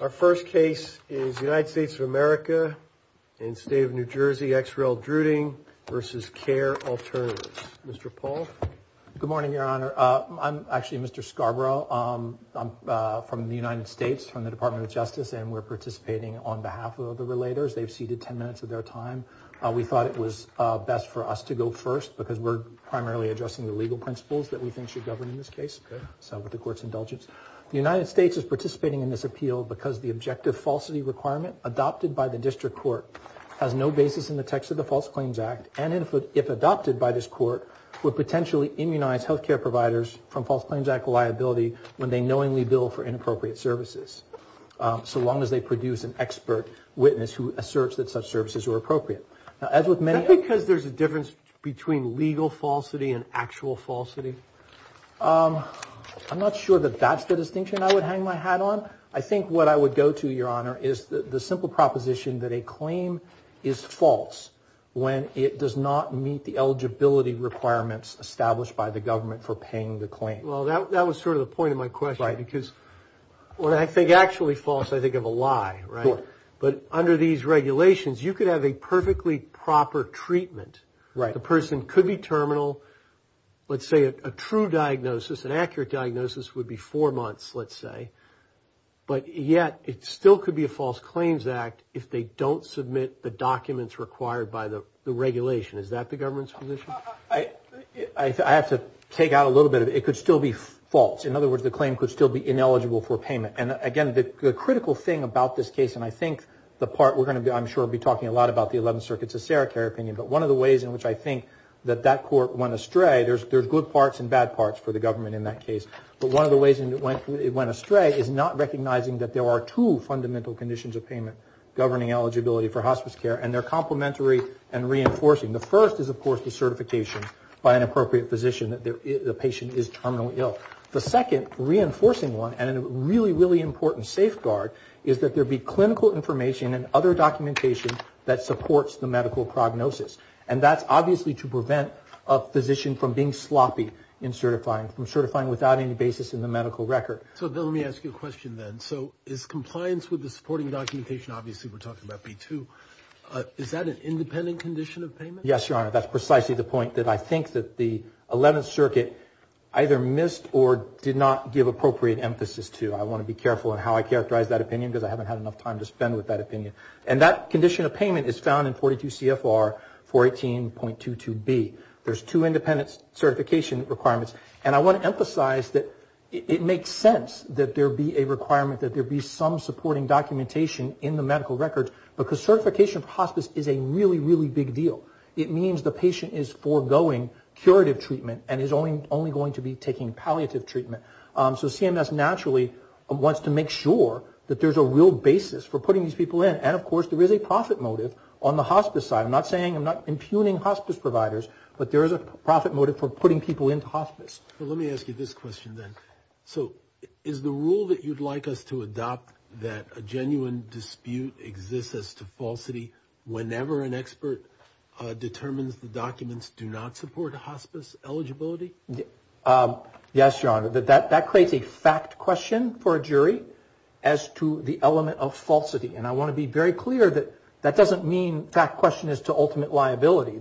Our first case is United States of America and State of New Jersey, XRL Druding v. Care Alternatives. Mr. Paul? Good morning, Your Honor. I'm actually Mr. Scarborough. I'm from the United States, from the Department of Justice, and we're participating on behalf of the relators. They've ceded 10 minutes of their time. We thought it was best for us to go first because we're primarily addressing the legal principles that we think should govern in this case. So with the Court's indulgence, the United States is participating in this appeal because the objective falsity requirement adopted by the district court has no basis in the text of the False Claims Act and if adopted by this court, would potentially immunize health care providers from False Claims Act liability when they knowingly bill for inappropriate services, so long as they produce an expert witness who asserts that such services are appropriate. Is that because there's a difference between legal falsity and actual falsity? I'm not sure that that's the distinction I would hang my hat on. I think what I would go to, Your Honor, is the simple proposition that a claim is false when it does not meet the eligibility requirements established by the government for paying the claim. Well, that was sort of the point of my question because when I think actually false, I think of a lie, right? But under these regulations, you could have a perfectly proper treatment. Right. The person could be terminal. Let's say a true diagnosis, an accurate diagnosis would be four months, let's say, but yet it still could be a False Claims Act if they don't submit the documents required by the regulation. Is that the government's position? I have to take out a little bit. It could still be false. In other words, the claim could still be ineligible for payment. And, again, the critical thing about this case, and I think the part we're going to, I'm sure, be talking a lot about the Eleventh Circuit's Acera Care opinion, but one of the ways in which I think that that court went astray, there's good parts and bad parts for the government in that case, but one of the ways it went astray is not recognizing that there are two fundamental conditions of payment, governing eligibility for hospice care, and they're complementary and reinforcing. The first is, of course, the certification by an appropriate physician that the patient is terminally ill. The second, reinforcing one, and a really, really important safeguard, is that there be clinical information and other documentation that supports the medical prognosis. And that's obviously to prevent a physician from being sloppy in certifying, from certifying without any basis in the medical record. So, Bill, let me ask you a question then. So is compliance with the supporting documentation, obviously we're talking about B-2, is that an independent condition of payment? Yes, Your Honor. That's precisely the point that I think that the Eleventh Circuit either missed or did not give appropriate emphasis to. I want to be careful in how I characterize that opinion because I haven't had enough time to spend with that opinion. And that condition of payment is found in 42 CFR 418.22B. There's two independent certification requirements, and I want to emphasize that it makes sense that there be a requirement that there be some supporting documentation in the medical record because certification for hospice is a really, really big deal. It means the patient is foregoing curative treatment and is only going to be taking palliative treatment. So CMS naturally wants to make sure that there's a real basis for putting these people in. And, of course, there is a profit motive on the hospice side. I'm not saying, I'm not impugning hospice providers, but there is a profit motive for putting people into hospice. Well, let me ask you this question then. So is the rule that you'd like us to adopt that a genuine dispute exists as to falsity whenever an expert determines the documents do not support hospice eligibility? Yes, Your Honor. That creates a fact question for a jury as to the element of falsity. And I want to be very clear that that doesn't mean fact question is to ultimate liability.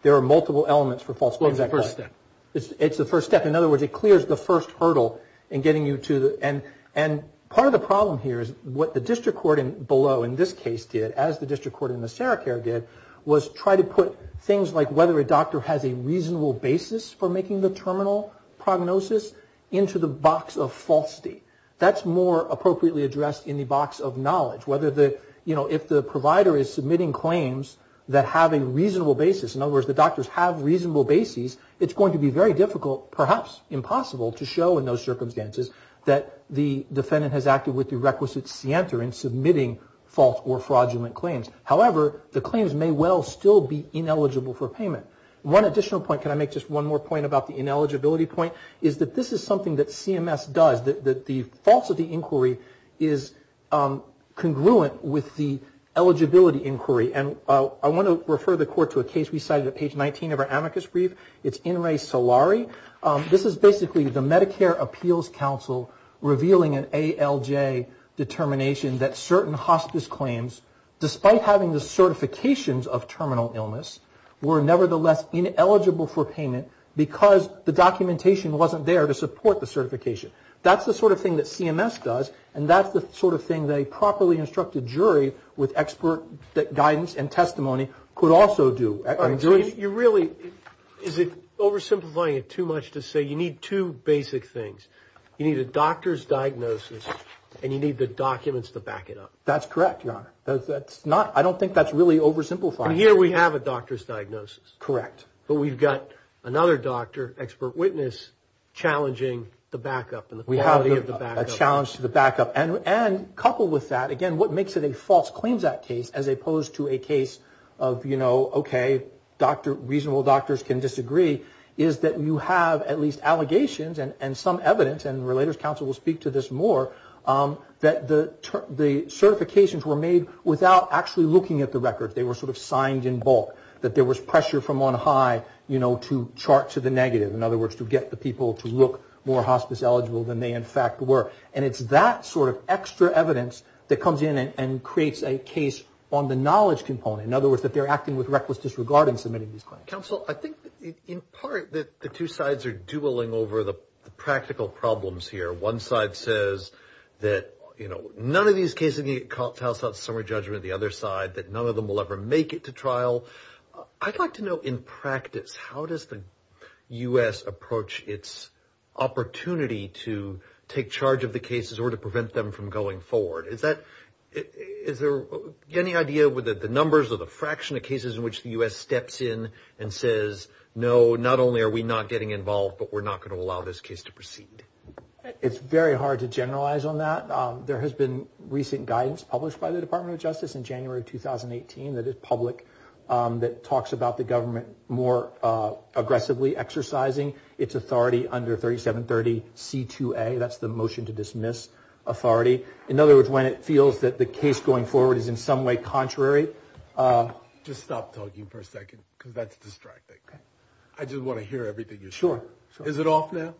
There are multiple elements for falsity. Well, it's the first step. It's the first step. In other words, it clears the first hurdle in getting you to the end. And part of the problem here is what the district court below in this case did, as the district court in the Sarah Care did, was try to put things like whether a doctor has a reasonable basis for making the terminal prognosis into the box of falsity. That's more appropriately addressed in the box of knowledge. Whether the, you know, if the provider is submitting claims that have a reasonable basis, in other words, the doctors have reasonable bases, it's going to be very difficult, perhaps impossible, to show in those circumstances that the defendant has acted with the requisite scienter in submitting false or fraudulent claims. However, the claims may well still be ineligible for payment. One additional point, can I make just one more point about the ineligibility point, is that this is something that CMS does, that the false of the inquiry is congruent with the eligibility inquiry. And I want to refer the court to a case we cited at page 19 of our amicus brief. It's In Re Solari. This is basically the Medicare Appeals Council revealing an ALJ determination that certain hospice claims, despite having the certifications of terminal illness, were nevertheless ineligible for payment because the documentation wasn't there to support the certification. That's the sort of thing that CMS does, and that's the sort of thing that a properly instructed jury with expert guidance and testimony could also do. You really, is it oversimplifying it too much to say you need two basic things. You need a doctor's diagnosis, and you need the documents to back it up. That's correct, Your Honor. I don't think that's really oversimplifying it. And here we have a doctor's diagnosis. Correct. But we've got another doctor, expert witness, challenging the backup and the quality of the backup. We have a challenge to the backup. And coupled with that, again, what makes it a false claims act case, as opposed to a case of, you know, okay, reasonable doctors can disagree, is that you have at least allegations and some evidence, and the Relators Council will speak to this more, that the certifications were made without actually looking at the records. They were sort of signed in bulk, that there was pressure from on high, you know, to chart to the negative, in other words, to get the people to look more hospice eligible than they in fact were. And it's that sort of extra evidence that comes in and creates a case on the knowledge component. In other words, that they're acting with reckless disregard in submitting these claims. Counsel, I think in part that the two sides are dueling over the practical problems here. One side says that, you know, none of these cases need to get called to house without summary judgment. The other side, that none of them will ever make it to trial. I'd like to know in practice, how does the U.S. approach its opportunity to take charge of the cases or to prevent them from going forward? Is there any idea whether the numbers or the fraction of cases in which the U.S. steps in and says, no, not only are we not getting involved, but we're not going to allow this case to proceed? It's very hard to generalize on that. There has been recent guidance published by the Department of Justice in January of 2018 that is public that talks about the government more aggressively exercising its authority under 3730C2A. That's the motion to dismiss authority. In other words, when it feels that the case going forward is in some way contrary. Just stop talking for a second, because that's distracting. I just want to hear everything you're saying. Sure. Is it off now?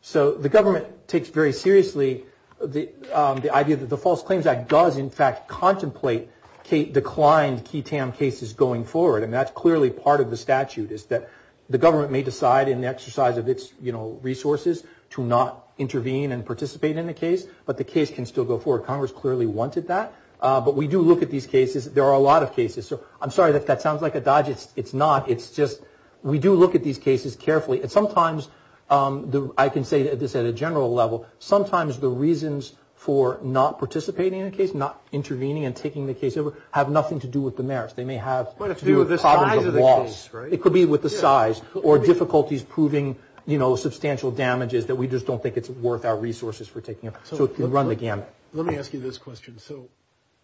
So the government takes very seriously the idea that the False Claims Act does, in fact, contemplate declined QI-TAM cases going forward. And that's clearly part of the statute is that the government may decide in the exercise of its resources to not intervene and participate in a case, but the case can still go forward. Congress clearly wanted that. But we do look at these cases. There are a lot of cases. So I'm sorry if that sounds like a dodge. It's not. It's just we do look at these cases carefully. And sometimes I can say this at a general level. Sometimes the reasons for not participating in a case, not intervening and taking the case over, have nothing to do with the merits. They may have to do with the size of the case. It could be with the size or difficulties proving, you know, substantial damages that we just don't think it's worth our resources for taking it. So you run the gamut. Let me ask you this question. So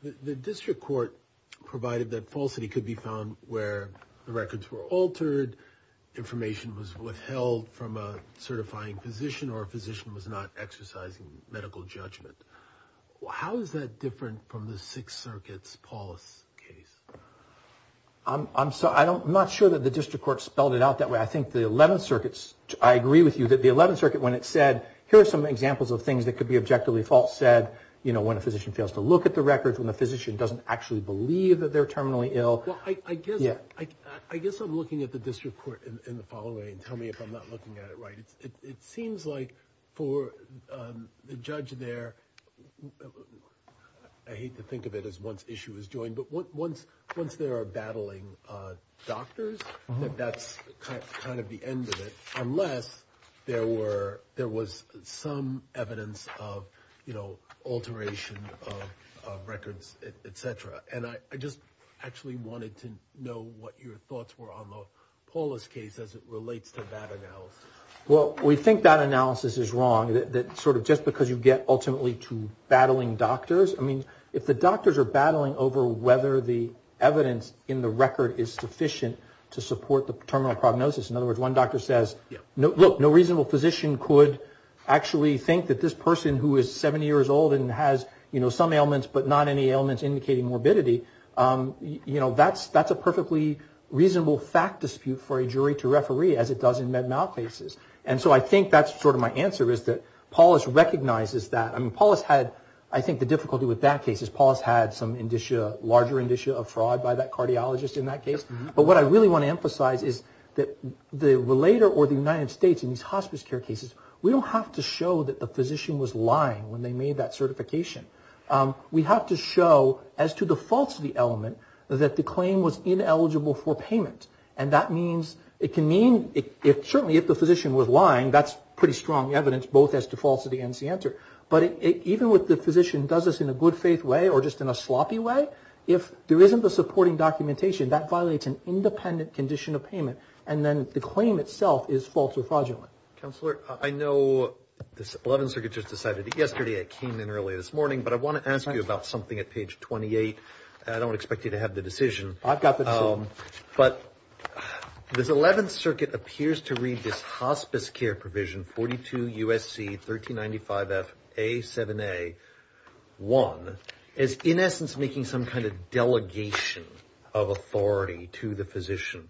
the district court provided that falsity could be found where the records were altered, and information was withheld from a certifying physician or a physician was not exercising medical judgment. How is that different from the Sixth Circuit's Paulus case? I'm not sure that the district court spelled it out that way. I think the Eleventh Circuit, I agree with you, that the Eleventh Circuit, when it said, here are some examples of things that could be objectively false, said, you know, when a physician fails to look at the records, when the physician doesn't actually believe that they're terminally ill. Well, I guess I'm looking at the district court in the following way and tell me if I'm not looking at it right. It seems like for the judge there, I hate to think of it as once issue is joined, but once there are battling doctors, that that's kind of the end of it, unless there was some evidence of, you know, alteration of records, et cetera. And I just actually wanted to know what your thoughts were on the Paulus case as it relates to that analysis. Well, we think that analysis is wrong, that sort of just because you get ultimately to battling doctors. I mean, if the doctors are battling over whether the evidence in the record is sufficient to support the terminal prognosis, in other words, one doctor says, look, no reasonable physician could actually think that this person who is 70 years old and has, you know, some ailments but not any ailments indicating morbidity, you know, that's a perfectly reasonable fact dispute for a jury to referee as it does in med mal cases. And so I think that's sort of my answer is that Paulus recognizes that. I mean, Paulus had, I think, the difficulty with that case is Paulus had some indicia, larger indicia of fraud by that cardiologist in that case. But what I really want to emphasize is that the relator or the United States in these hospice care cases, we don't have to show that the physician was lying when they made that certification. We have to show as to the falsity element that the claim was ineligible for payment. And that means it can mean, certainly if the physician was lying, that's pretty strong evidence, both as to falsity and to the answer. But even with the physician does this in a good faith way or just in a sloppy way, if there isn't the supporting documentation, that violates an independent condition of payment. And then the claim itself is false or fraudulent. Counselor, I know this 11th Circuit just decided yesterday, it came in early this morning, but I want to ask you about something at page 28. I don't expect you to have the decision. I've got the decision. But this 11th Circuit appears to read this hospice care provision, 42 U.S.C. 1395 F.A. 7A. 1, as in essence making some kind of delegation of authority to the physician.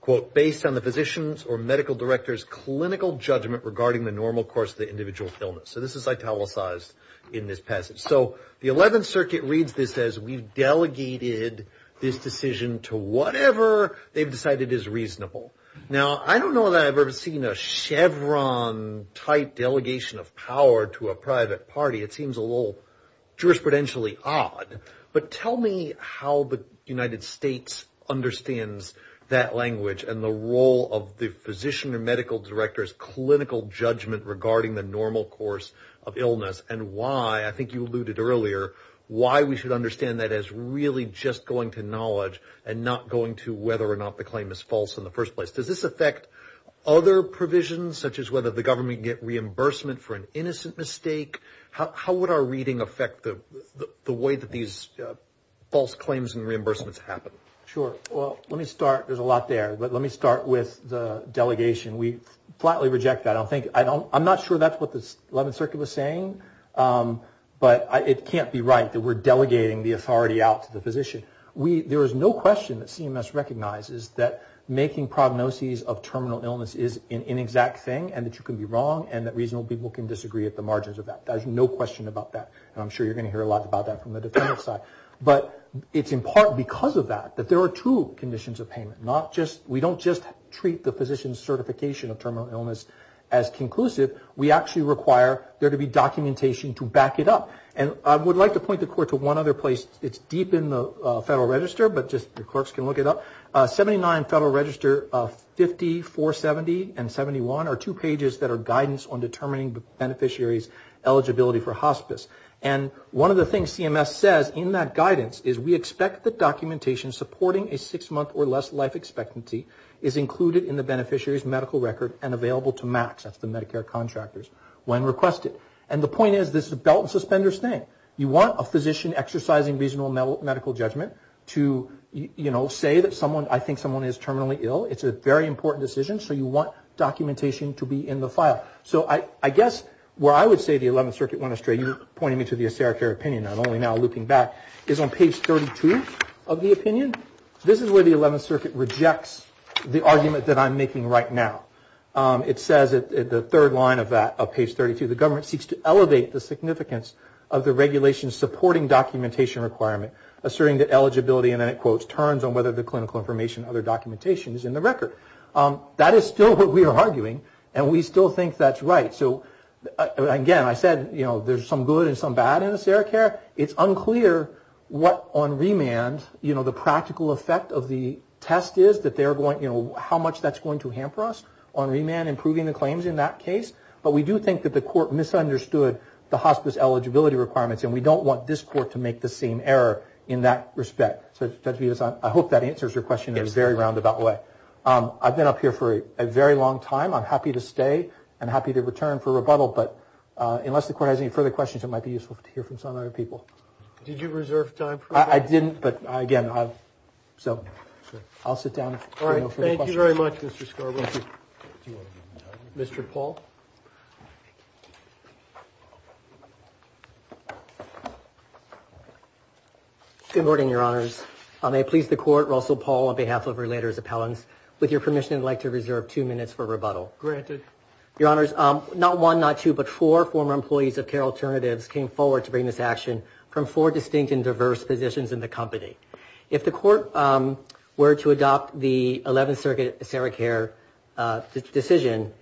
Quote, based on the physician's or medical director's clinical judgment regarding the normal course of the individual's illness. So this is italicized in this passage. So the 11th Circuit reads this as we've delegated this decision to whatever they've decided is reasonable. Now, I don't know that I've ever seen a Chevron-type delegation of power to a private party. It seems a little jurisprudentially odd. But tell me how the United States understands that language and the role of the physician or medical director's clinical judgment regarding the normal course of illness and why, I think you alluded earlier, why we should understand that as really just going to knowledge and not going to whether or not the claim is false in the first place. Does this affect other provisions, such as whether the government can get reimbursement for an innocent mistake? How would our reading affect the way that these false claims and reimbursements happen? Sure. Well, let me start, there's a lot there, but let me start with the delegation. We flatly reject that. I'm not sure that's what the 11th Circuit was saying, but it can't be right that we're delegating the authority out to the physician. There is no question that CMS recognizes that making prognoses of terminal illness is an inexact thing and that you can be wrong and that reasonable people can disagree at the margins of that. There's no question about that, and I'm sure you're going to hear a lot about that from the defendant's side. But it's in part because of that, that there are two conditions of payment. We don't just treat the physician's certification of terminal illness as conclusive. We actually require there to be documentation to back it up. And I would like to point the court to one other place. It's deep in the Federal Register, but just the clerks can look it up. 79 Federal Register 50, 470, and 71 are two pages that are guidance on determining the beneficiary's eligibility for hospice. And one of the things CMS says in that guidance is, we expect the documentation supporting a six-month or less life expectancy is included in the beneficiary's medical record and available to MACs, that's the Medicare contractors, when requested. And the point is, this is a belt and suspender thing. You want a physician exercising reasonable medical judgment to, you know, say that someone, I think someone is terminally ill. It's a very important decision. So you want documentation to be in the file. So I guess where I would say the 11th Circuit went astray, you were pointing me to the Acera Care opinion. I'm only now looking back. It's on page 32 of the opinion. This is where the 11th Circuit rejects the argument that I'm making right now. It says that the third line of that, of page 32, the government seeks to elevate the significance of the regulation supporting documentation requirement, asserting that eligibility, and then it quotes, turns on whether the clinical information and other documentation is in the record. That is still what we are arguing, and we still think that's right. So again, I said, you know, there's some good and some bad in Acera Care. It's unclear what on remand, you know, the practical effect of the test is, that they're going, you know, how much that's going to hamper us on remand, improving the claims in that case. But we do think that the court misunderstood the hospice eligibility requirements, and we don't want this court to make the same error in that respect. So Judge Bevis, I hope that answers your question in a very roundabout way. I've been up here for a very long time. I'm happy to stay. I'm happy to return for rebuttal. But unless the court has any further questions, it might be useful to hear from some other people. Did you reserve time for that? I didn't, but again, so I'll sit down. All right. Thank you very much, Mr. Scarborough. Mr. Paul. Good morning, Your Honors. I may please the court, Russell Paul, on behalf of Relators Appellants. With your permission, I'd like to reserve two minutes for rebuttal. Granted. Your Honors, not one, not two, but four former employees of Care Alternatives came forward to bring this action from four distinct and diverse positions in the company. If the court were to adopt the Eleventh Circuit ACERICARE decision,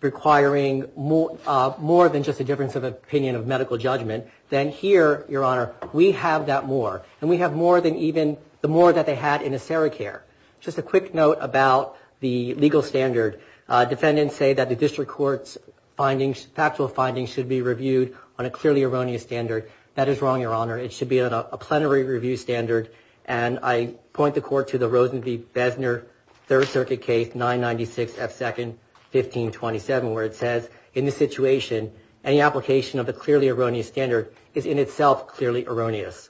requiring more than just a difference of opinion of medical judgment, then here, Your Honor, we have that more. And we have more than even the more that they had in ACERICARE. Just a quick note about the legal standard. Defendants say that the district court's findings, factual findings should be reviewed on a clearly erroneous standard. That is wrong, Your Honor. It should be on a plenary review standard. And I point the court to the Rosen v. Besner Third Circuit Case 996F2-1527, where it says, in this situation, any application of a clearly erroneous standard is in itself clearly erroneous.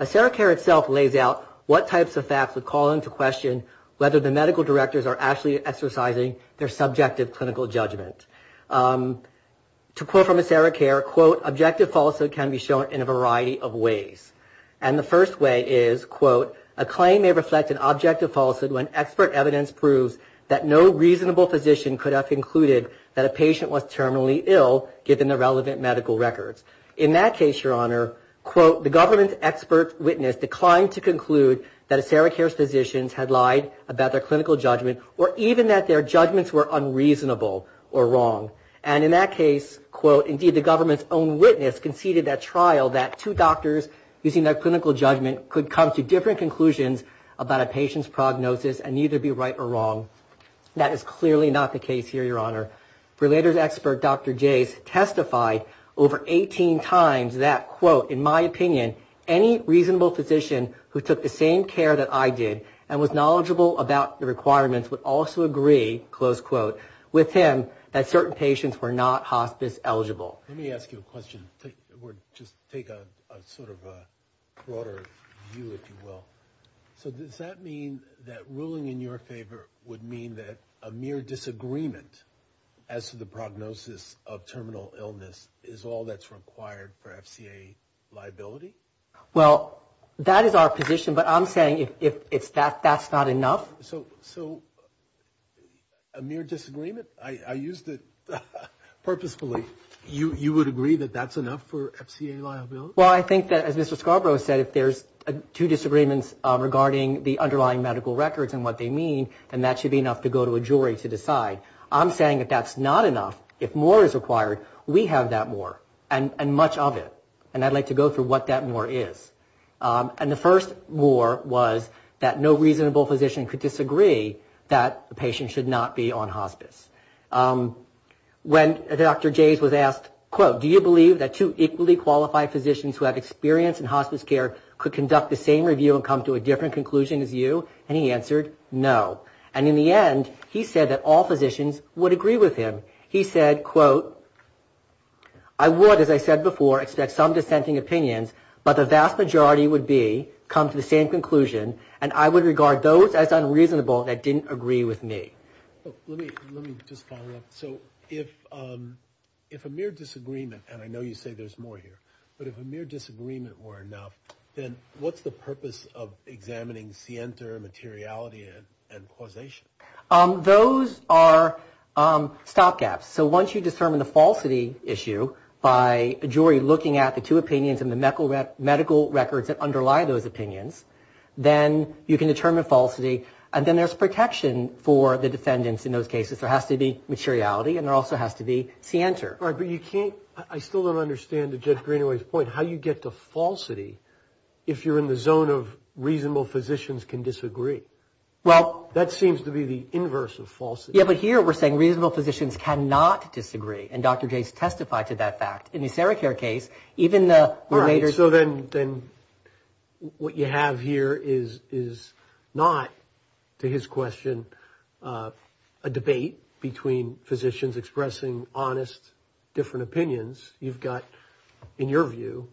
ACERICARE itself lays out what types of facts would call into question whether the medical directors are actually exercising their subjective clinical judgment. To quote from ACERICARE, quote, objective falsehood can be shown in a variety of ways. And the first way is, quote, a claim may reflect an objective falsehood when expert evidence proves that no reasonable physician could have concluded that a patient was terminally ill given the relevant medical records. In that case, Your Honor, quote, the government's expert witness declined to conclude that ACERICARE's physicians had lied about their clinical judgment or even that their judgments were unreasonable or wrong. And in that case, quote, indeed the government's own witness conceded that trial that two doctors using their clinical judgment could come to different conclusions about a patient's prognosis and neither be right or wrong. That is clearly not the case here, Your Honor. Relators expert Dr. Jase testified over 18 times that, quote, in my opinion, any reasonable physician who took the same care that I did and was knowledgeable about the requirements would also agree, close quote, with him that certain patients were not hospice eligible. Let me ask you a question. Just take a sort of a broader view, if you will. So does that mean that ruling in your favor would mean that a mere disagreement as to the prognosis of terminal illness is all that's required for FCA liability? Well, that is our position. But I'm saying if that's not enough. So a mere disagreement? I used it purposefully. You would agree that that's enough for FCA liability? Well, I think that, as Mr. Scarborough said, if there's two disagreements regarding the underlying medical records and what they mean, then that should be enough to go to a jury to decide. I'm saying that that's not enough. If more is required, we have that more and much of it. And I'd like to go through what that more is. And the first more was that no reasonable physician could disagree that a patient should not be on hospice. When Dr. Jays was asked, quote, do you believe that two equally qualified physicians who have experience in hospice care could conduct the same review and come to a different conclusion as you? And he answered no. And in the end, he said that all physicians would agree with him. He said, quote, I would, as I said before, expect some dissenting opinions, but the vast majority would be come to the same conclusion, and I would regard those as unreasonable that didn't agree with me. Let me just follow up. So if a mere disagreement, and I know you say there's more here, but if a mere disagreement were enough, then what's the purpose of examining scienter, materiality, and causation? Those are stop gaps. So once you determine the falsity issue by a jury looking at the two opinions and the medical records that underlie those opinions, then you can determine falsity, and then there's protection for the defendants in those cases. There has to be materiality, and there also has to be scienter. All right, but you can't, I still don't understand Judge Greenaway's point, how you get to falsity if you're in the zone of reasonable physicians can disagree. Well. That seems to be the inverse of falsity. Yeah, but here we're saying reasonable physicians cannot disagree, and Dr. Jays testified to that fact. All right, so then what you have here is not, to his question, a debate between physicians expressing honest, different opinions. You've got, in your view,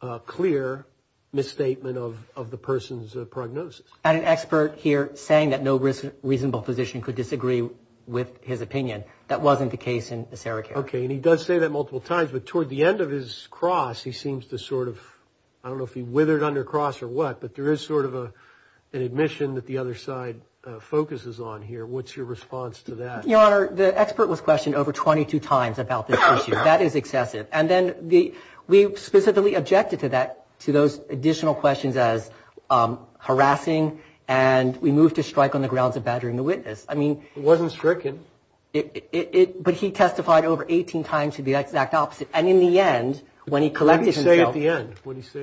a clear misstatement of the person's prognosis. An expert here saying that no reasonable physician could disagree with his opinion. That wasn't the case in the SeraCare. Okay, and he does say that multiple times, but toward the end of his cross, he seems to sort of, I don't know if he withered under cross or what, but there is sort of an admission that the other side focuses on here. What's your response to that? Your Honor, the expert was questioned over 22 times about this issue. That is excessive. And then we specifically objected to those additional questions as harassing, and we moved to strike on the grounds of battering the witness. It wasn't stricken. But he testified over 18 times to the exact opposite. And in the end, when he collected himself. What did he say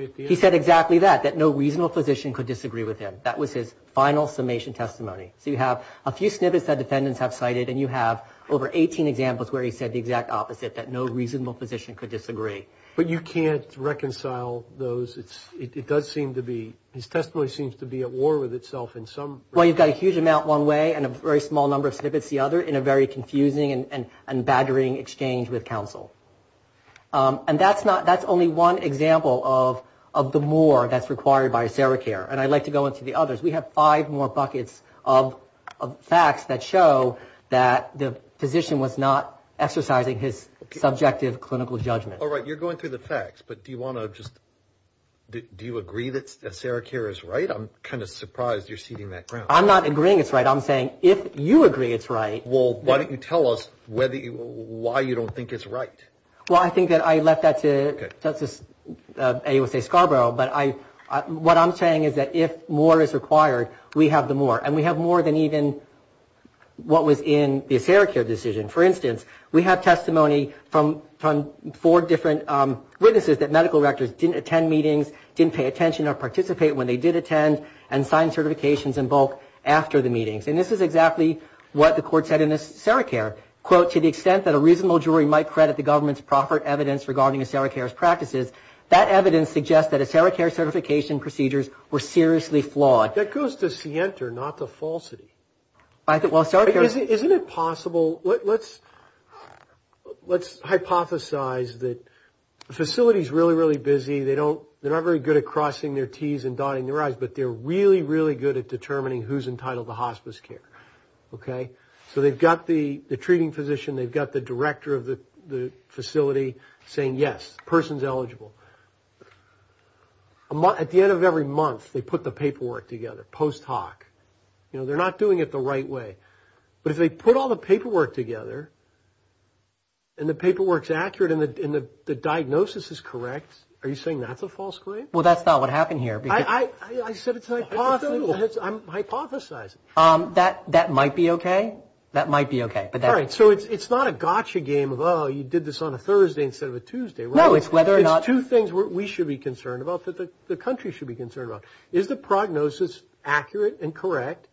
at the end? He said exactly that, that no reasonable physician could disagree with him. That was his final summation testimony. So you have a few snippets that defendants have cited, and you have over 18 examples where he said the exact opposite, that no reasonable physician could disagree. But you can't reconcile those. It does seem to be, his testimony seems to be at war with itself in some. Well, you've got a huge amount one way and a very small number of snippets the other in a very confusing and battering exchange with counsel. And that's not, that's only one example of the more that's required by ACERICARE. And I'd like to go into the others. We have five more buckets of facts that show that the physician was not exercising his subjective clinical judgment. All right, you're going through the facts, but do you want to just, do you agree that ACERICARE is right? I'm kind of surprised you're ceding that ground. I'm not agreeing it's right. I'm saying if you agree it's right. Well, why don't you tell us why you don't think it's right. Well, I think that I left that to Justice Scarborough. But what I'm saying is that if more is required, we have the more. And we have more than even what was in the ACERICARE decision. For instance, we have testimony from four different witnesses that medical rectors didn't attend meetings, didn't pay attention or participate when they did attend, and signed certifications in bulk after the meetings. And this is exactly what the court said in ACERICARE. Quote, to the extent that a reasonable jury might credit the government's proper evidence regarding ACERICARE's practices, that evidence suggests that ACERICARE certification procedures were seriously flawed. That goes to scienter, not to falsity. Isn't it possible, let's hypothesize that facilities are really, really busy. They're not very good at crossing their Ts and dotting their Is, but they're really, really good at determining who's entitled to hospice care. Okay? So they've got the treating physician, they've got the director of the facility saying, yes, person's eligible. At the end of every month, they put the paperwork together, post hoc. You know, they're not doing it the right way. But if they put all the paperwork together and the paperwork's accurate and the diagnosis is correct, are you saying that's a false claim? Well, that's not what happened here. I said it's hypothetical. I'm hypothesizing. That might be okay. That might be okay. All right. So it's not a gotcha game of, oh, you did this on a Thursday instead of a Tuesday. No, it's whether or not. It's two things we should be concerned about, that the country should be concerned about. Is the prognosis accurate and correct?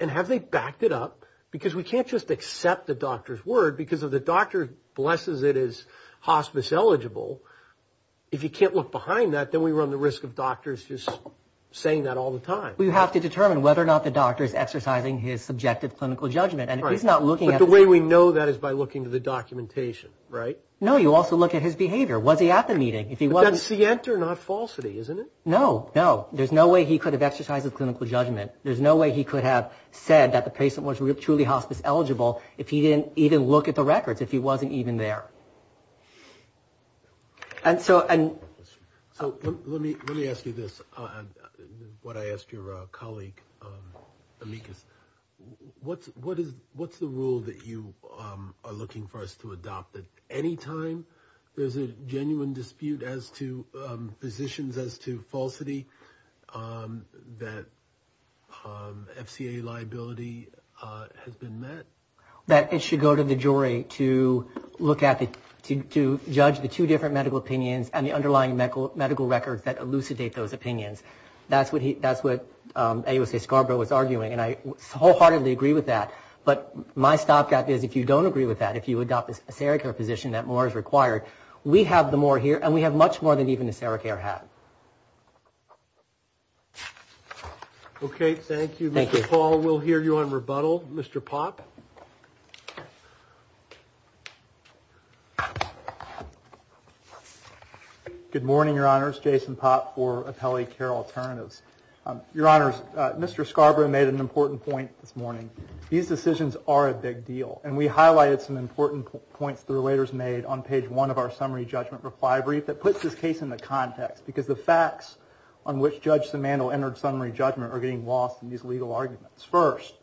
And have they backed it up? Because we can't just accept the doctor's word because if the doctor blesses it as hospice eligible, if you can't look behind that, then we run the risk of doctors just saying that all the time. Well, you have to determine whether or not the doctor is exercising his subjective clinical judgment. And if he's not looking at it. But the way we know that is by looking at the documentation, right? No, you also look at his behavior. Was he at the meeting? That's the answer, not falsity, isn't it? No, no. There's no way he could have exercised his clinical judgment. There's no way he could have said that the patient was truly hospice eligible if he didn't even look at the records, if he wasn't even there. So let me ask you this, what I asked your colleague, Amicus. What's the rule that you are looking for us to adopt? That any time there's a genuine dispute as to physicians as to falsity, that FCA liability has been met? That it should go to the jury to judge the two different medical opinions and the underlying medical records that elucidate those opinions. That's what AUSA Scarborough was arguing. And I wholeheartedly agree with that. But my stopgap is if you don't agree with that, if you adopt a Sarah Care physician, that more is required. We have the more here, and we have much more than even the Sarah Care had. Okay, thank you. Thank you. Mr. Paul, we'll hear you on rebuttal. Mr. Popp? Good morning, Your Honors. Jason Popp for Appellate Care Alternatives. Your Honors, Mr. Scarborough made an important point this morning. These decisions are a big deal. And we highlighted some important points the relators made on page one of our summary judgment reply brief that puts this case in the context. Because the facts on which Judge Simandl entered summary judgment are getting lost in these legal arguments. First,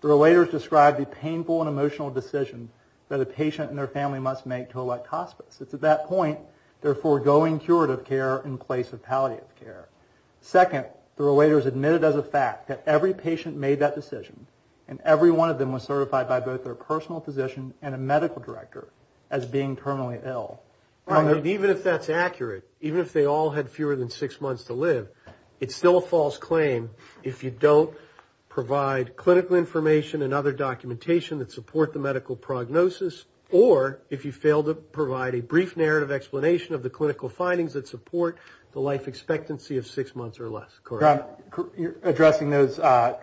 the relators described the painful and emotional decision that a patient and their family must make to elect hospice. It's at that point they're foregoing curative care in place of palliative care. Second, the relators admitted as a fact that every patient made that decision, and every one of them was certified by both their personal physician and a medical director as being terminally ill. Even if that's accurate, even if they all had fewer than six months to live, it's still a false claim if you don't provide clinical information and other documentation that support the medical prognosis, or if you fail to provide a brief narrative explanation of the clinical findings that support the life expectancy of six months or less. Correct? You're addressing those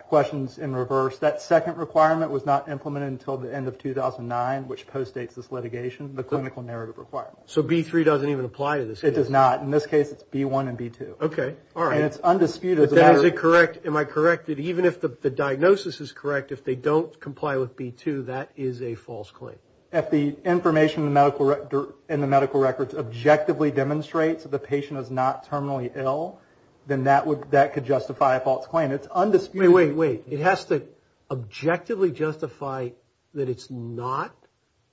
questions in reverse. That second requirement was not implemented until the end of 2009, which postdates this litigation, the clinical narrative requirement. So B3 doesn't even apply to this case? It does not. In this case, it's B1 and B2. Okay. All right. And it's undisputed. But then is it correct, am I correct, that even if the diagnosis is correct, if they don't comply with B2, that is a false claim? If the information in the medical records objectively demonstrates that the patient is not terminally ill, then that could justify a false claim. It's undisputed. Wait, wait, wait. It has to objectively justify that it's not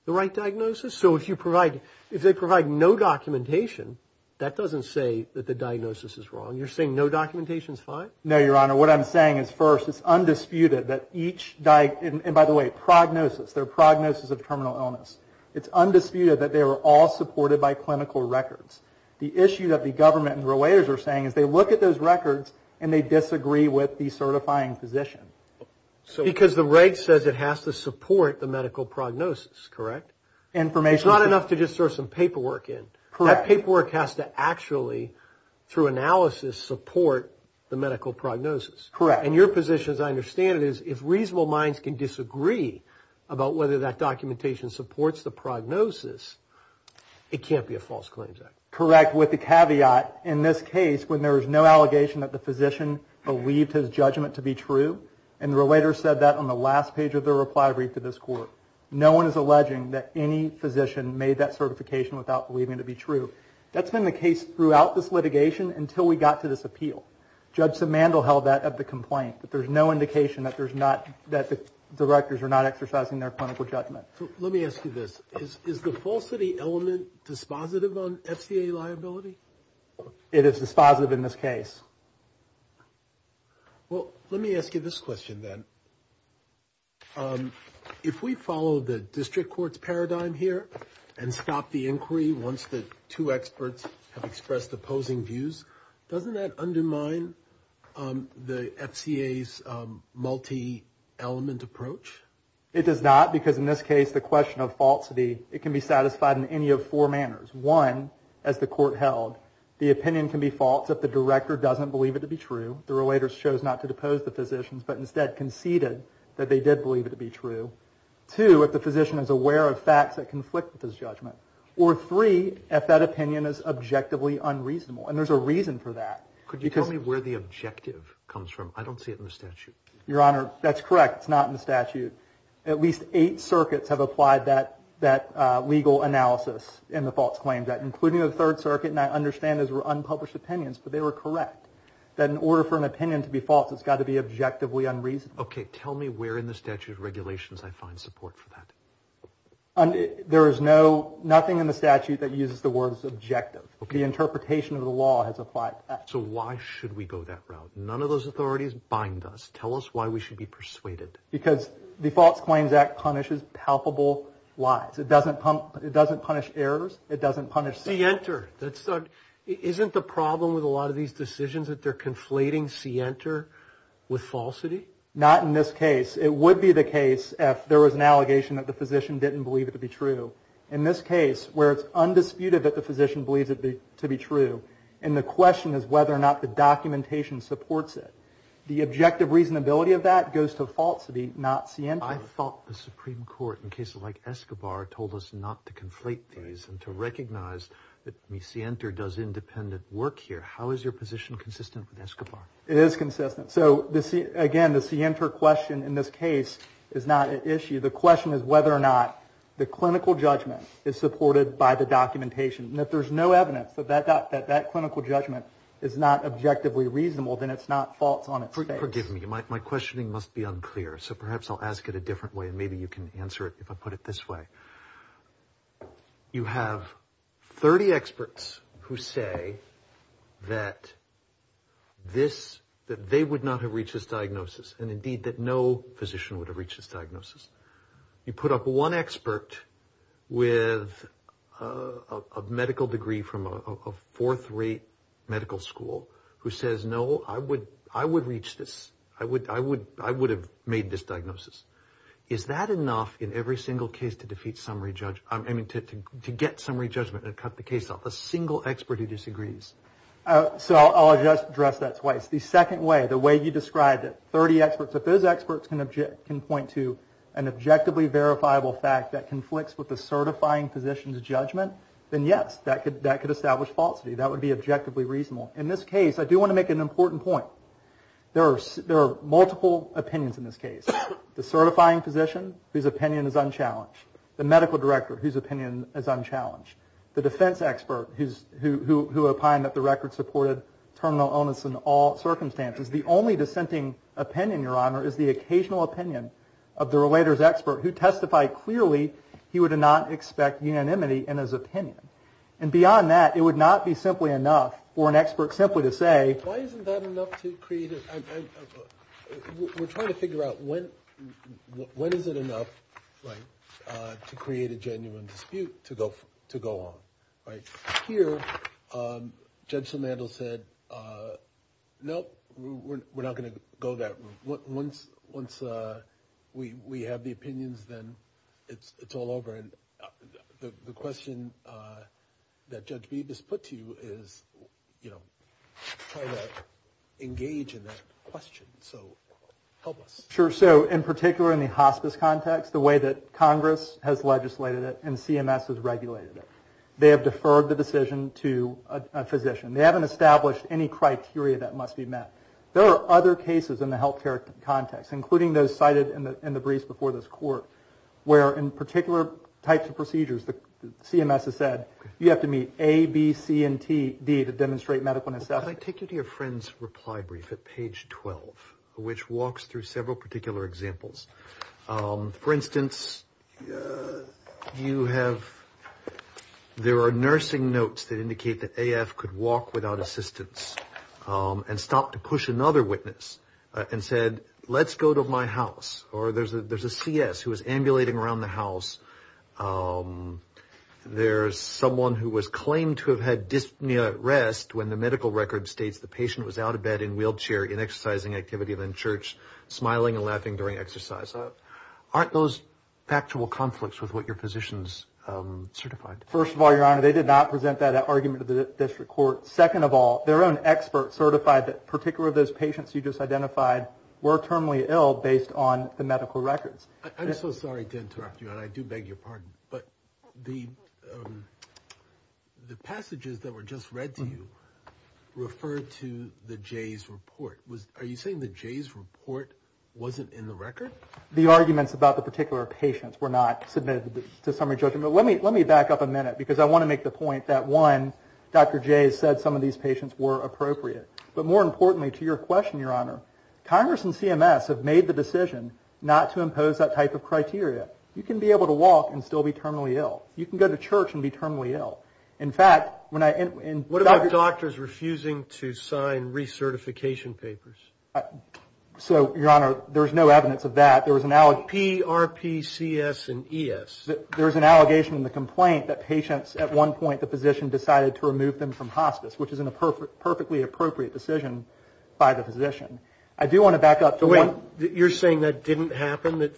the right diagnosis? So if they provide no documentation, that doesn't say that the diagnosis is wrong. You're saying no documentation is fine? No, Your Honor. What I'm saying is, first, it's undisputed that each – and by the way, they're a prognosis, they're a prognosis of terminal illness. It's undisputed that they were all supported by clinical records. The issue that the government and the relators are saying is they look at those records and they disagree with the certifying physician. Because the reg says it has to support the medical prognosis, correct? It's not enough to just throw some paperwork in. Correct. That paperwork has to actually, through analysis, support the medical prognosis. Correct. And your position, as I understand it, is if reasonable minds can disagree about whether that documentation supports the prognosis, it can't be a false claims act. Correct. With the caveat, in this case, when there was no allegation that the physician believed his judgment to be true, and the relator said that on the last page of the reply brief to this court, no one is alleging that any physician made that certification without believing it to be true. That's been the case throughout this litigation until we got to this appeal. Judge Simandl held that of the complaint, that there's no indication that the directors are not exercising their clinical judgment. Let me ask you this. Is the falsity element dispositive on FCA liability? It is dispositive in this case. Well, let me ask you this question then. If we follow the district court's paradigm here and stop the inquiry once the two experts have expressed opposing views, doesn't that undermine the FCA's multi-element approach? It does not, because in this case, the question of falsity, it can be satisfied in any of four manners. One, as the court held, the opinion can be false if the director doesn't believe it to be true, the relator chose not to depose the physicians, but instead conceded that they did believe it to be true. Two, if the physician is aware of facts that conflict with his judgment. Or three, if that opinion is objectively unreasonable. And there's a reason for that. Could you tell me where the objective comes from? I don't see it in the statute. Your Honor, that's correct. It's not in the statute. At least eight circuits have applied that legal analysis in the false claims, including the Third Circuit. And I understand those were unpublished opinions, but they were correct. That in order for an opinion to be false, it's got to be objectively unreasonable. Okay. Tell me where in the statute of regulations I find support for that. There is nothing in the statute that uses the word objective. The interpretation of the law has applied to that. So why should we go that route? None of those authorities bind us. Tell us why we should be persuaded. Because the False Claims Act punishes palpable lies. It doesn't punish errors. It doesn't punish. See enter. Isn't the problem with a lot of these decisions that they're conflating see enter with falsity? Not in this case. It would be the case if there was an allegation that the physician didn't believe it to be true. In this case, where it's undisputed that the physician believes it to be true, and the question is whether or not the documentation supports it. The objective reasonability of that goes to falsity, not see enter. I thought the Supreme Court, in cases like Escobar, told us not to conflate these and to recognize that see enter does independent work here. How is your position consistent with Escobar? It is consistent. The question is whether or not the clinical judgment is supported by the documentation. If there's no evidence that that clinical judgment is not objectively reasonable, then it's not false on its face. Forgive me. My questioning must be unclear. So perhaps I'll ask it a different way, and maybe you can answer it if I put it this way. You have 30 experts who say that this, that they would not have reached this diagnosis, and indeed that no physician would have reached this diagnosis. You put up one expert with a medical degree from a fourth-rate medical school who says, no, I would reach this. I would have made this diagnosis. Is that enough in every single case to defeat summary judgment, I mean to get summary judgment and cut the case off, a single expert who disagrees? So I'll address that twice. The second way, the way you described it, 30 experts, if those experts can point to an objectively verifiable fact that conflicts with the certifying physician's judgment, then yes, that could establish falsity. That would be objectively reasonable. In this case, I do want to make an important point. There are multiple opinions in this case. The certifying physician, whose opinion is unchallenged. The medical director, whose opinion is unchallenged. The defense expert, who opined that the record supported terminal illness in all circumstances. The only dissenting opinion, Your Honor, is the occasional opinion of the relator's expert, who testified clearly he would not expect unanimity in his opinion. And beyond that, it would not be simply enough for an expert simply to say- Why isn't that enough to create- We're trying to figure out when is it enough to create a genuine dispute to go on. Here, Judge Samandel said, nope, we're not going to go that route. Once we have the opinions, then it's all over. The question that Judge Beeb has put to you is, you know, try to engage in that question. So help us. Sure. So in particular in the hospice context, the way that Congress has legislated it and CMS has regulated it, they have deferred the decision to a physician. They haven't established any criteria that must be met. There are other cases in the health care context, including those cited in the briefs before this court, where in particular types of procedures the CMS has said, you have to meet A, B, C, and D to demonstrate medical necessity. Can I take you to your friend's reply brief at page 12, which walks through several particular examples? For instance, you have-there are nursing notes that indicate that AF could walk without assistance and stop to push another witness and said, let's go to my house. Or there's a CS who was ambulating around the house. There's someone who was claimed to have had dyspnea at rest when the medical record states the patient was out of bed in a wheelchair, in exercising activity, then church, smiling and laughing during exercise. Aren't those factual conflicts with what your physicians certified? First of all, Your Honor, they did not present that argument to the district court. Second of all, their own expert certified that particular of those patients you just identified were terminally ill based on the medical records. I'm so sorry to interrupt you, and I do beg your pardon, but the passages that were just read to you refer to the Jays' report. Are you saying the Jays' report wasn't in the record? The arguments about the particular patients were not submitted to summary judgment. But let me back up a minute because I want to make the point that, one, Dr. Jays said some of these patients were appropriate. But more importantly, to your question, Your Honor, Congress and CMS have made the decision not to impose that type of criteria. You can be able to walk and still be terminally ill. You can go to church and be terminally ill. In fact, when I end up in- What about doctors refusing to sign recertification papers? So, Your Honor, there's no evidence of that. There was an- PRPCS and ES. There's an allegation in the complaint that patients at one point, the physician decided to remove them from hospice, which is a perfectly appropriate decision by the physician. I do want to back up to one- Wait. You're saying that didn't happen? It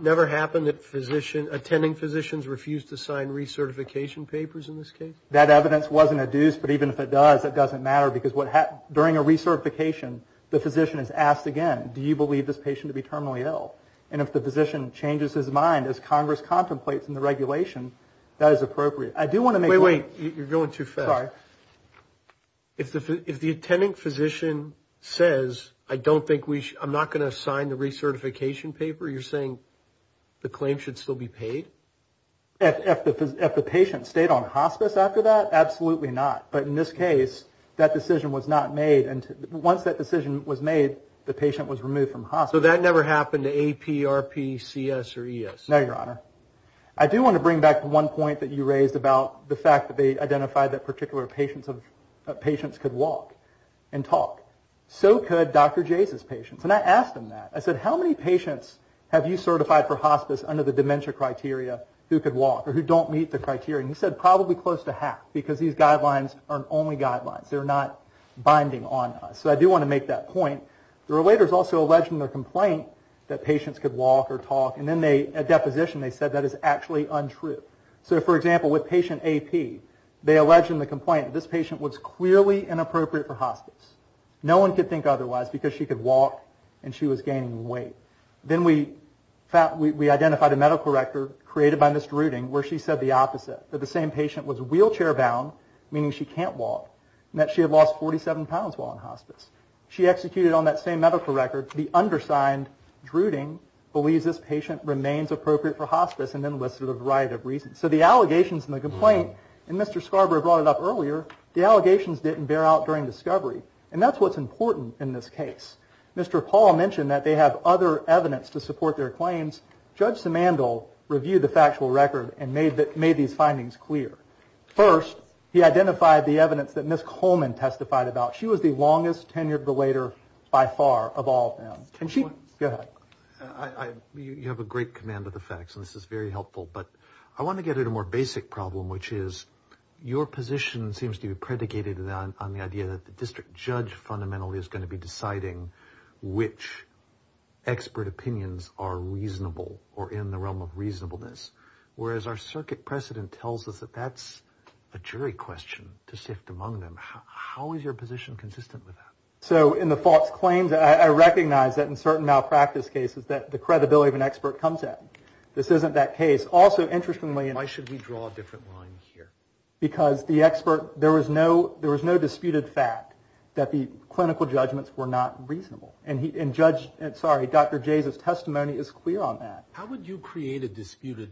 never happened that attending physicians refused to sign recertification papers in this case? That evidence wasn't adduced. But even if it does, it doesn't matter because during a recertification, the physician is asked again, do you believe this patient to be terminally ill? And if the physician changes his mind, as Congress contemplates in the regulation, that is appropriate. I do want to make- Wait, wait. You're going too fast. Sorry. If the attending physician says, I don't think we- I'm not going to sign the recertification paper, you're saying the claim should still be paid? If the patient stayed on hospice after that, absolutely not. But in this case, that decision was not made. Once that decision was made, the patient was removed from hospice. So that never happened to AP, RP, CS, or ES? No, Your Honor. I do want to bring back one point that you raised about the fact that they identified that particular patients could walk and talk. So could Dr. Jays' patients. And I asked him that. I said, how many patients have you certified for hospice under the dementia criteria who could walk or who don't meet the criteria? And he said, probably close to half because these guidelines aren't only guidelines. They're not binding on us. So I do want to make that point. The relators also alleged in their complaint that patients could walk or talk. And then at deposition they said that is actually untrue. So, for example, with patient AP, they alleged in the complaint that this patient was clearly inappropriate for hospice. No one could think otherwise because she could walk and she was gaining weight. Then we identified a medical record created by Ms. Druding where she said the opposite, that the same patient was wheelchair-bound, meaning she can't walk, and that she had lost 47 pounds while in hospice. She executed on that same medical record. The undersigned Druding believes this patient remains appropriate for hospice and then listed a variety of reasons. So the allegations in the complaint, and Mr. Scarborough brought it up earlier, the allegations didn't bear out during discovery. And that's what's important in this case. Mr. Paul mentioned that they have other evidence to support their claims. Judge Simandl reviewed the factual record and made these findings clear. First, he identified the evidence that Ms. Coleman testified about. She was the longest-tenured relator by far of all of them. Go ahead. You have a great command of the facts, and this is very helpful, but I want to get at a more basic problem, which is your position seems to be predicated on the idea that the district judge fundamentally is going to be deciding which expert opinions are reasonable or in the realm of reasonableness, whereas our circuit precedent tells us that that's a jury question to sift among them. How is your position consistent with that? So in the false claims, I recognize that in certain malpractice cases that the credibility of an expert comes at. This isn't that case. Also, interestingly, and why should we draw a different line here? Because the expert, there was no disputed fact that the clinical judgments were not reasonable. And Judge, sorry, Dr. Jays' testimony is clear on that. How would you create a disputed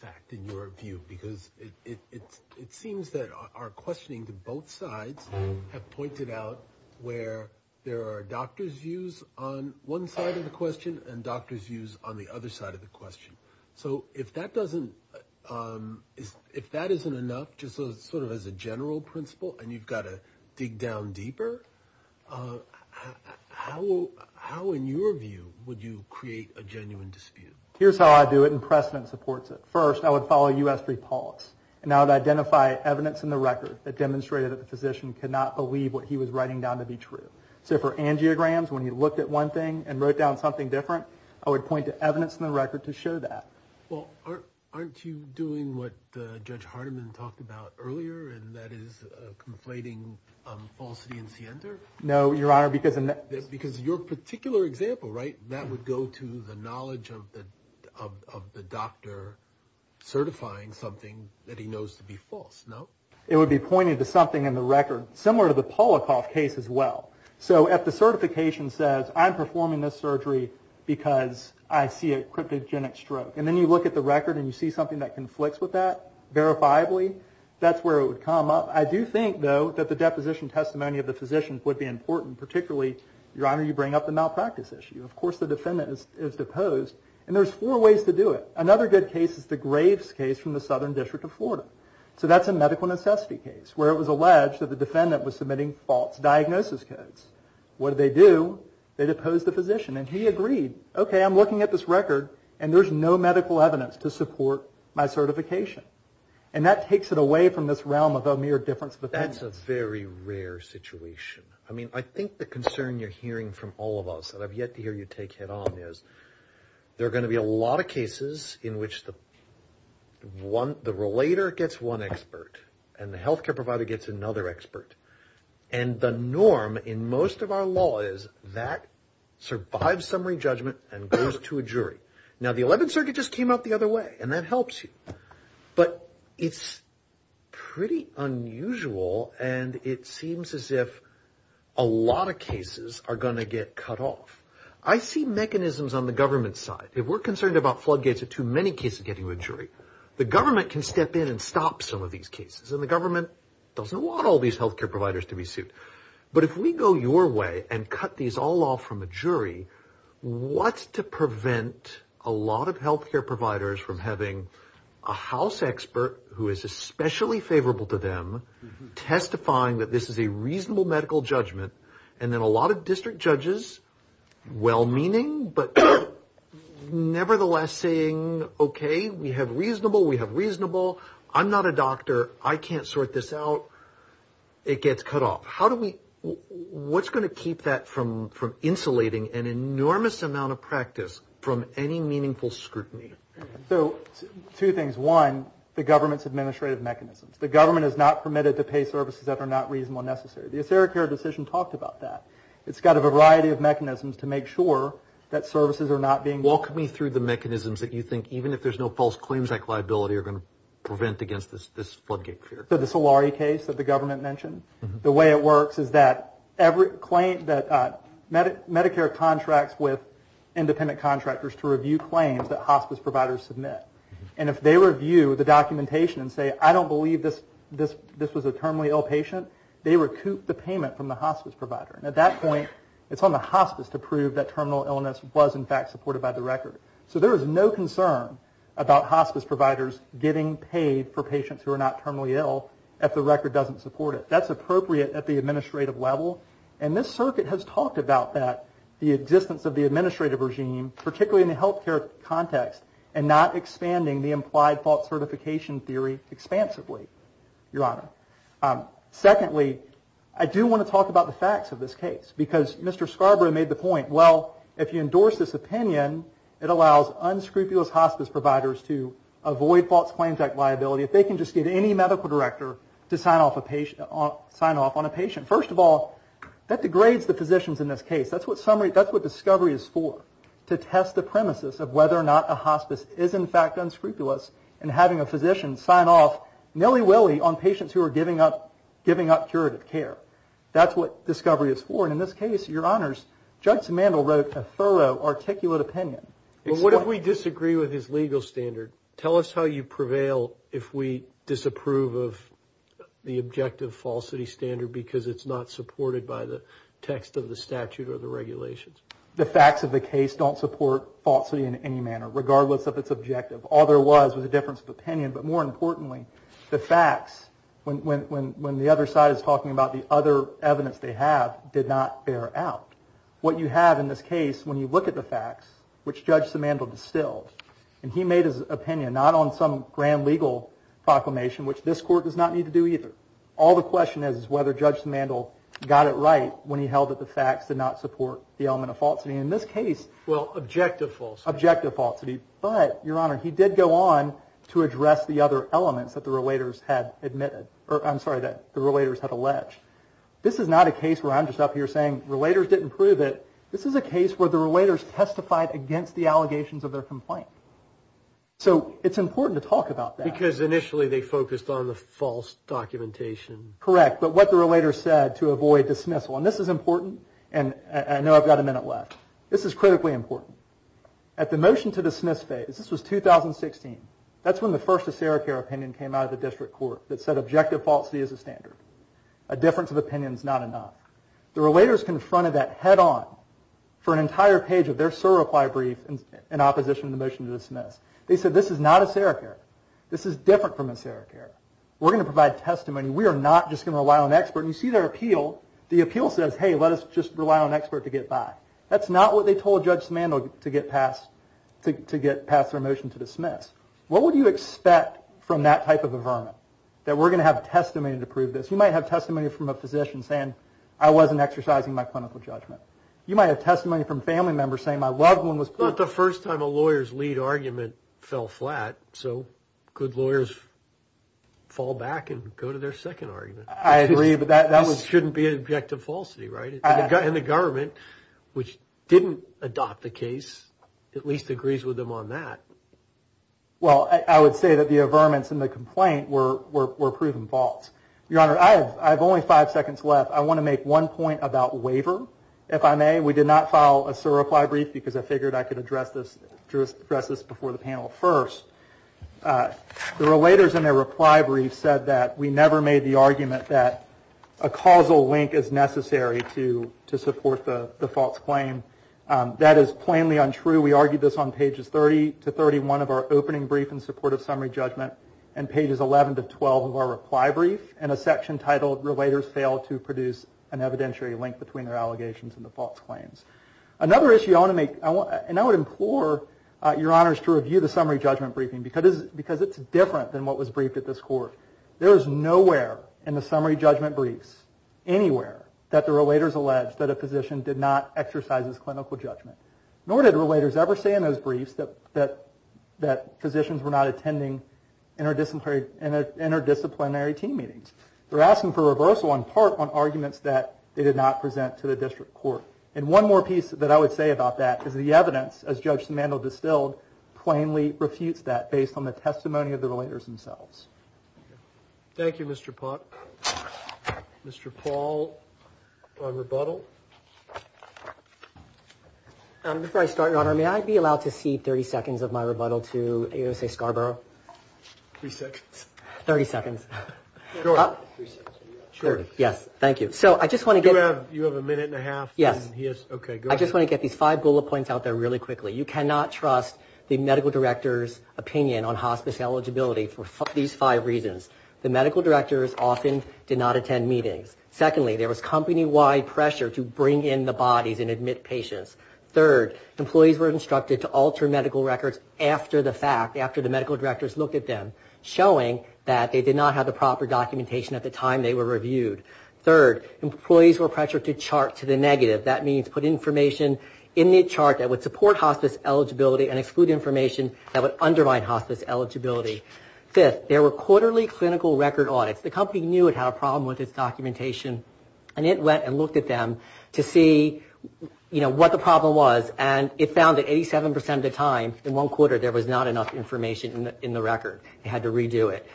fact in your view? Because it seems that our questioning to both sides have pointed out where there are doctor's views on one side of the question and doctor's views on the other side of the question. So if that doesn't, if that isn't enough, just sort of as a general principle, and you've got to dig down deeper, how in your view would you create a genuine dispute? Here's how I do it, and precedent supports it. First, I would follow U.S. pre-polis, and I would identify evidence in the record that demonstrated that the physician could not believe what he was writing down to be true. So for angiograms, when he looked at one thing and wrote down something different, I would point to evidence in the record to show that. Well, aren't you doing what Judge Hardiman talked about earlier, and that is conflating falsity and scienter? No, Your Honor, because in that… certifying something that he knows to be false, no? It would be pointing to something in the record similar to the Polikoff case as well. So if the certification says, I'm performing this surgery because I see a cryptogenic stroke, and then you look at the record and you see something that conflicts with that, verifiably, that's where it would come up. I do think, though, that the deposition testimony of the physician would be important, particularly, Your Honor, you bring up the malpractice issue. Of course, the defendant is deposed, and there's four ways to do it. Another good case is the Graves case from the Southern District of Florida. So that's a medical necessity case, where it was alleged that the defendant was submitting false diagnosis codes. What did they do? They deposed the physician, and he agreed. Okay, I'm looking at this record, and there's no medical evidence to support my certification. And that takes it away from this realm of a mere difference of opinion. That's a very rare situation. I mean, I think the concern you're hearing from all of us, and I've yet to hear you take head-on, is there are going to be a lot of cases in which the relator gets one expert, and the health care provider gets another expert. And the norm in most of our law is that survives summary judgment and goes to a jury. Now, the Eleventh Circuit just came out the other way, and that helps you. But it's pretty unusual, and it seems as if a lot of cases are going to get cut off. I see mechanisms on the government side. If we're concerned about floodgates, there are too many cases getting to a jury. The government can step in and stop some of these cases, and the government doesn't want all these health care providers to be sued. But if we go your way and cut these all off from a jury, what's to prevent a lot of health care providers from having a house expert who is especially favorable to them, testifying that this is a reasonable medical judgment, and then a lot of district judges, well-meaning, but nevertheless saying, okay, we have reasonable, we have reasonable, I'm not a doctor, I can't sort this out. It gets cut off. How do we, what's going to keep that from insulating an enormous amount of practice from any meaningful scrutiny? So two things. One, the government's administrative mechanisms. The government is not permitted to pay services that are not reasonable and necessary. The Acericare decision talked about that. It's got a variety of mechanisms to make sure that services are not being Walk me through the mechanisms that you think, even if there's no false claims, that liability are going to prevent against this floodgate fear. So the Solari case that the government mentioned? The way it works is that Medicare contracts with independent contractors to review claims that hospice providers submit. And if they review the documentation and say, I don't believe this was a terminally ill patient, they recoup the payment from the hospice provider. And at that point, it's on the hospice to prove that terminal illness was, in fact, supported by the record. So there is no concern about hospice providers getting paid for patients who are not terminally ill if the record doesn't support it. That's appropriate at the administrative level. And this circuit has talked about that, the existence of the administrative regime, particularly in the health care context, and not expanding the implied false certification theory expansively, Your Honor. Secondly, I do want to talk about the facts of this case. Because Mr. Scarborough made the point, well, if you endorse this opinion, it allows unscrupulous hospice providers to avoid false claims liability. If they can just get any medical director to sign off on a patient. First of all, that degrades the physicians in this case. That's what discovery is for, to test the premises of whether or not a hospice is, in fact, unscrupulous and having a physician sign off nilly-willy on patients who are giving up curative care. That's what discovery is for. And in this case, Your Honors, Judge Simandl wrote a thorough, articulate opinion. Well, what if we disagree with his legal standard? Tell us how you prevail if we disapprove of the objective falsity standard because it's not supported by the text of the statute or the regulations. The facts of the case don't support falsity in any manner, regardless of its objective. All there was was a difference of opinion. But more importantly, the facts, when the other side is talking about the other evidence they have, did not bear out. What you have in this case, when you look at the facts, which Judge Simandl distilled, and he made his opinion not on some grand legal proclamation, which this Court does not need to do either. All the question is whether Judge Simandl got it right when he held that the facts did not support the element of falsity. In this case, objective falsity. But, Your Honor, he did go on to address the other elements that the relators had alleged. This is not a case where I'm just up here saying relators didn't prove it. This is a case where the relators testified against the allegations of their complaint. So it's important to talk about that. Because initially they focused on the false documentation. Correct. But what the relators said to avoid dismissal. And this is important. And I know I've got a minute left. This is critically important. At the motion to dismiss phase, this was 2016, that's when the first Acera Care opinion came out of the District Court that said objective falsity is a standard. A difference of opinion is not enough. The relators confronted that head-on for an entire page of their SIR reply brief in opposition to the motion to dismiss. They said this is not Acera Care. This is different from Acera Care. We're going to provide testimony. We are not just going to rely on expert. And you see their appeal. The appeal says, hey, let us just rely on expert to get by. That's not what they told Judge Simandl to get past their motion to dismiss. What would you expect from that type of a vermin? That we're going to have testimony to prove this. You might have testimony from a physician saying, I wasn't exercising my clinical judgment. You might have testimony from family members saying my loved one was. It's not the first time a lawyer's lead argument fell flat. So good lawyers fall back and go to their second argument. I agree, but that was. This shouldn't be an objective falsity, right? And the government, which didn't adopt the case, at least agrees with them on that. Well, I would say that the averments in the complaint were proven false. Your Honor, I have only five seconds left. I want to make one point about waiver, if I may. We did not file a SIR reply brief because I figured I could address this before the panel first. The relators in their reply brief said that we never made the argument that a causal link is necessary to support the false claim. That is plainly untrue. We argued this on pages 30 to 31 of our opening brief in support of summary judgment and pages 11 to 12 of our reply brief in a section titled, Relators Fail to Produce an Evidentiary Link Between Their Allegations and the False Claims. Another issue I want to make, and I would implore your Honors to review the summary judgment briefing because it's different than what was briefed at this court. There is nowhere in the summary judgment briefs, anywhere, that the relators allege that a physician did not exercise his clinical judgment. Nor did the relators ever say in those briefs that physicians were not attending interdisciplinary team meetings. They're asking for reversal on part on arguments that they did not present to the district court. And one more piece that I would say about that is the evidence, as Judge Simandl distilled, plainly refutes that based on the testimony of the relators themselves. Thank you, Mr. Pott. Mr. Paul, on rebuttal. Before I start, Your Honor, may I be allowed to cede 30 seconds of my rebuttal to A.O.S.A. Scarborough? Three seconds. Thirty seconds. Sure. Yes, thank you. So I just want to get... You have a minute and a half? Yes. Okay, go ahead. I just want to get these five bullet points out there really quickly. You cannot trust the medical director's opinion on hospice eligibility for these five reasons. The medical directors often did not attend meetings. Secondly, there was company-wide pressure to bring in the bodies and admit patients. Third, employees were instructed to alter medical records after the fact, after the medical directors looked at them, showing that they did not have the proper documentation at the time they were reviewed. Third, employees were pressured to chart to the negative. That means put information in the chart that would support hospice eligibility and exclude information that would undermine hospice eligibility. Fifth, there were quarterly clinical record audits. The company knew it had a problem with its documentation, and it went and looked at them to see, you know, what the problem was, and it found that 87% of the time, in one quarter, there was not enough information in the record. It had to redo it.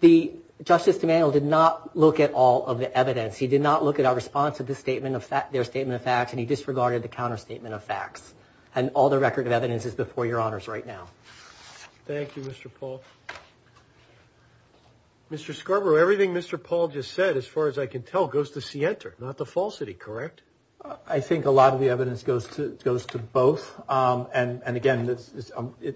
The Justice Emanuel did not look at all of the evidence. He did not look at our response to their statement of facts, and he disregarded the counterstatement of facts. And all the record of evidence is before your honors right now. Thank you, Mr. Paul. Mr. Scarborough, everything Mr. Paul just said, as far as I can tell, goes to SIENTA, not to Falsity, correct? I think a lot of the evidence goes to both. And, again,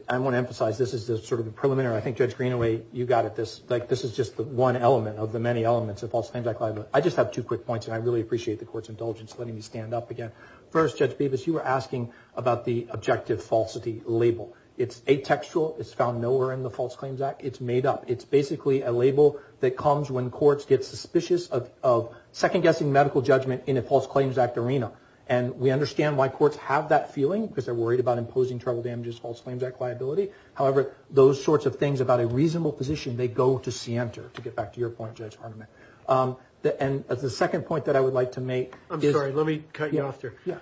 I want to emphasize this is sort of the preliminary. I think, Judge Greenaway, you got it. This is just one element of the many elements of False Claims Act liability. I just have two quick points, and I really appreciate the Court's indulgence in letting me stand up again. First, Judge Bevis, you were asking about the objective falsity label. It's atextual. It's found nowhere in the False Claims Act. It's made up. It's basically a label that comes when courts get suspicious of second-guessing medical judgment in a False Claims Act arena. And we understand why courts have that feeling, because they're worried about imposing travel damages, False Claims Act liability. However, those sorts of things about a reasonable position, they go to SIENTA, to get back to your point, Judge Hardiman. And the second point that I would like to make is – I'm sorry. Let me cut you off there. Yeah.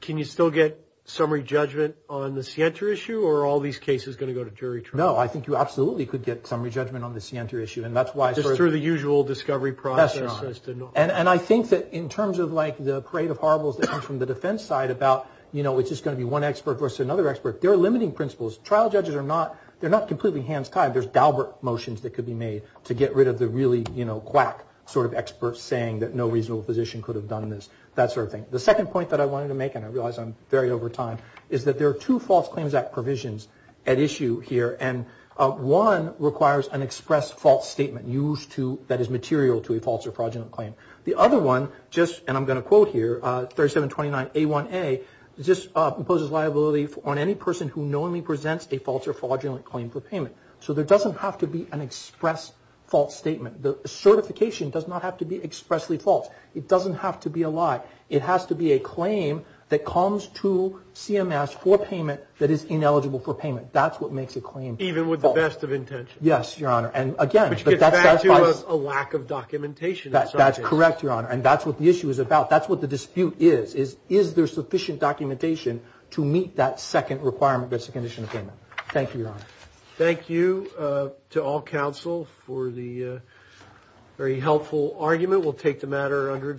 Can you still get summary judgment on the SIENTA issue, or are all these cases going to go to jury trial? No. I think you absolutely could get summary judgment on the SIENTA issue, and that's why – Just through the usual discovery process? That's right. And I think that in terms of, like, the parade of horribles that comes from the defense side about, you know, it's just going to be one expert versus another expert, there are limiting principles. Trial judges are not – they're not completely hands tied. There's Daubert motions that could be made to get rid of the really, you know, quack sort of experts saying that no reasonable physician could have done this, that sort of thing. The second point that I wanted to make, and I realize I'm very over time, is that there are two False Claims Act provisions at issue here, and one requires an expressed false statement used to – that is material to a false or fraudulent claim. The other one just – and I'm going to quote here, 3729A1A, just imposes liability on any person who knowingly presents a false or fraudulent claim for payment. So there doesn't have to be an expressed false statement. The certification does not have to be expressly false. It doesn't have to be a lie. It has to be a claim that comes to CMS for payment that is ineligible for payment. That's what makes a claim false. Even with the best of intentions. Yes, Your Honor, and again – Which gets back to a lack of documentation. That's correct, Your Honor, and that's what the issue is about. That's what the dispute is, is is there sufficient documentation to meet that second requirement, that's the condition of payment. Thank you, Your Honor. Thank you to all counsel for the very helpful argument. We'll take the matter under advice.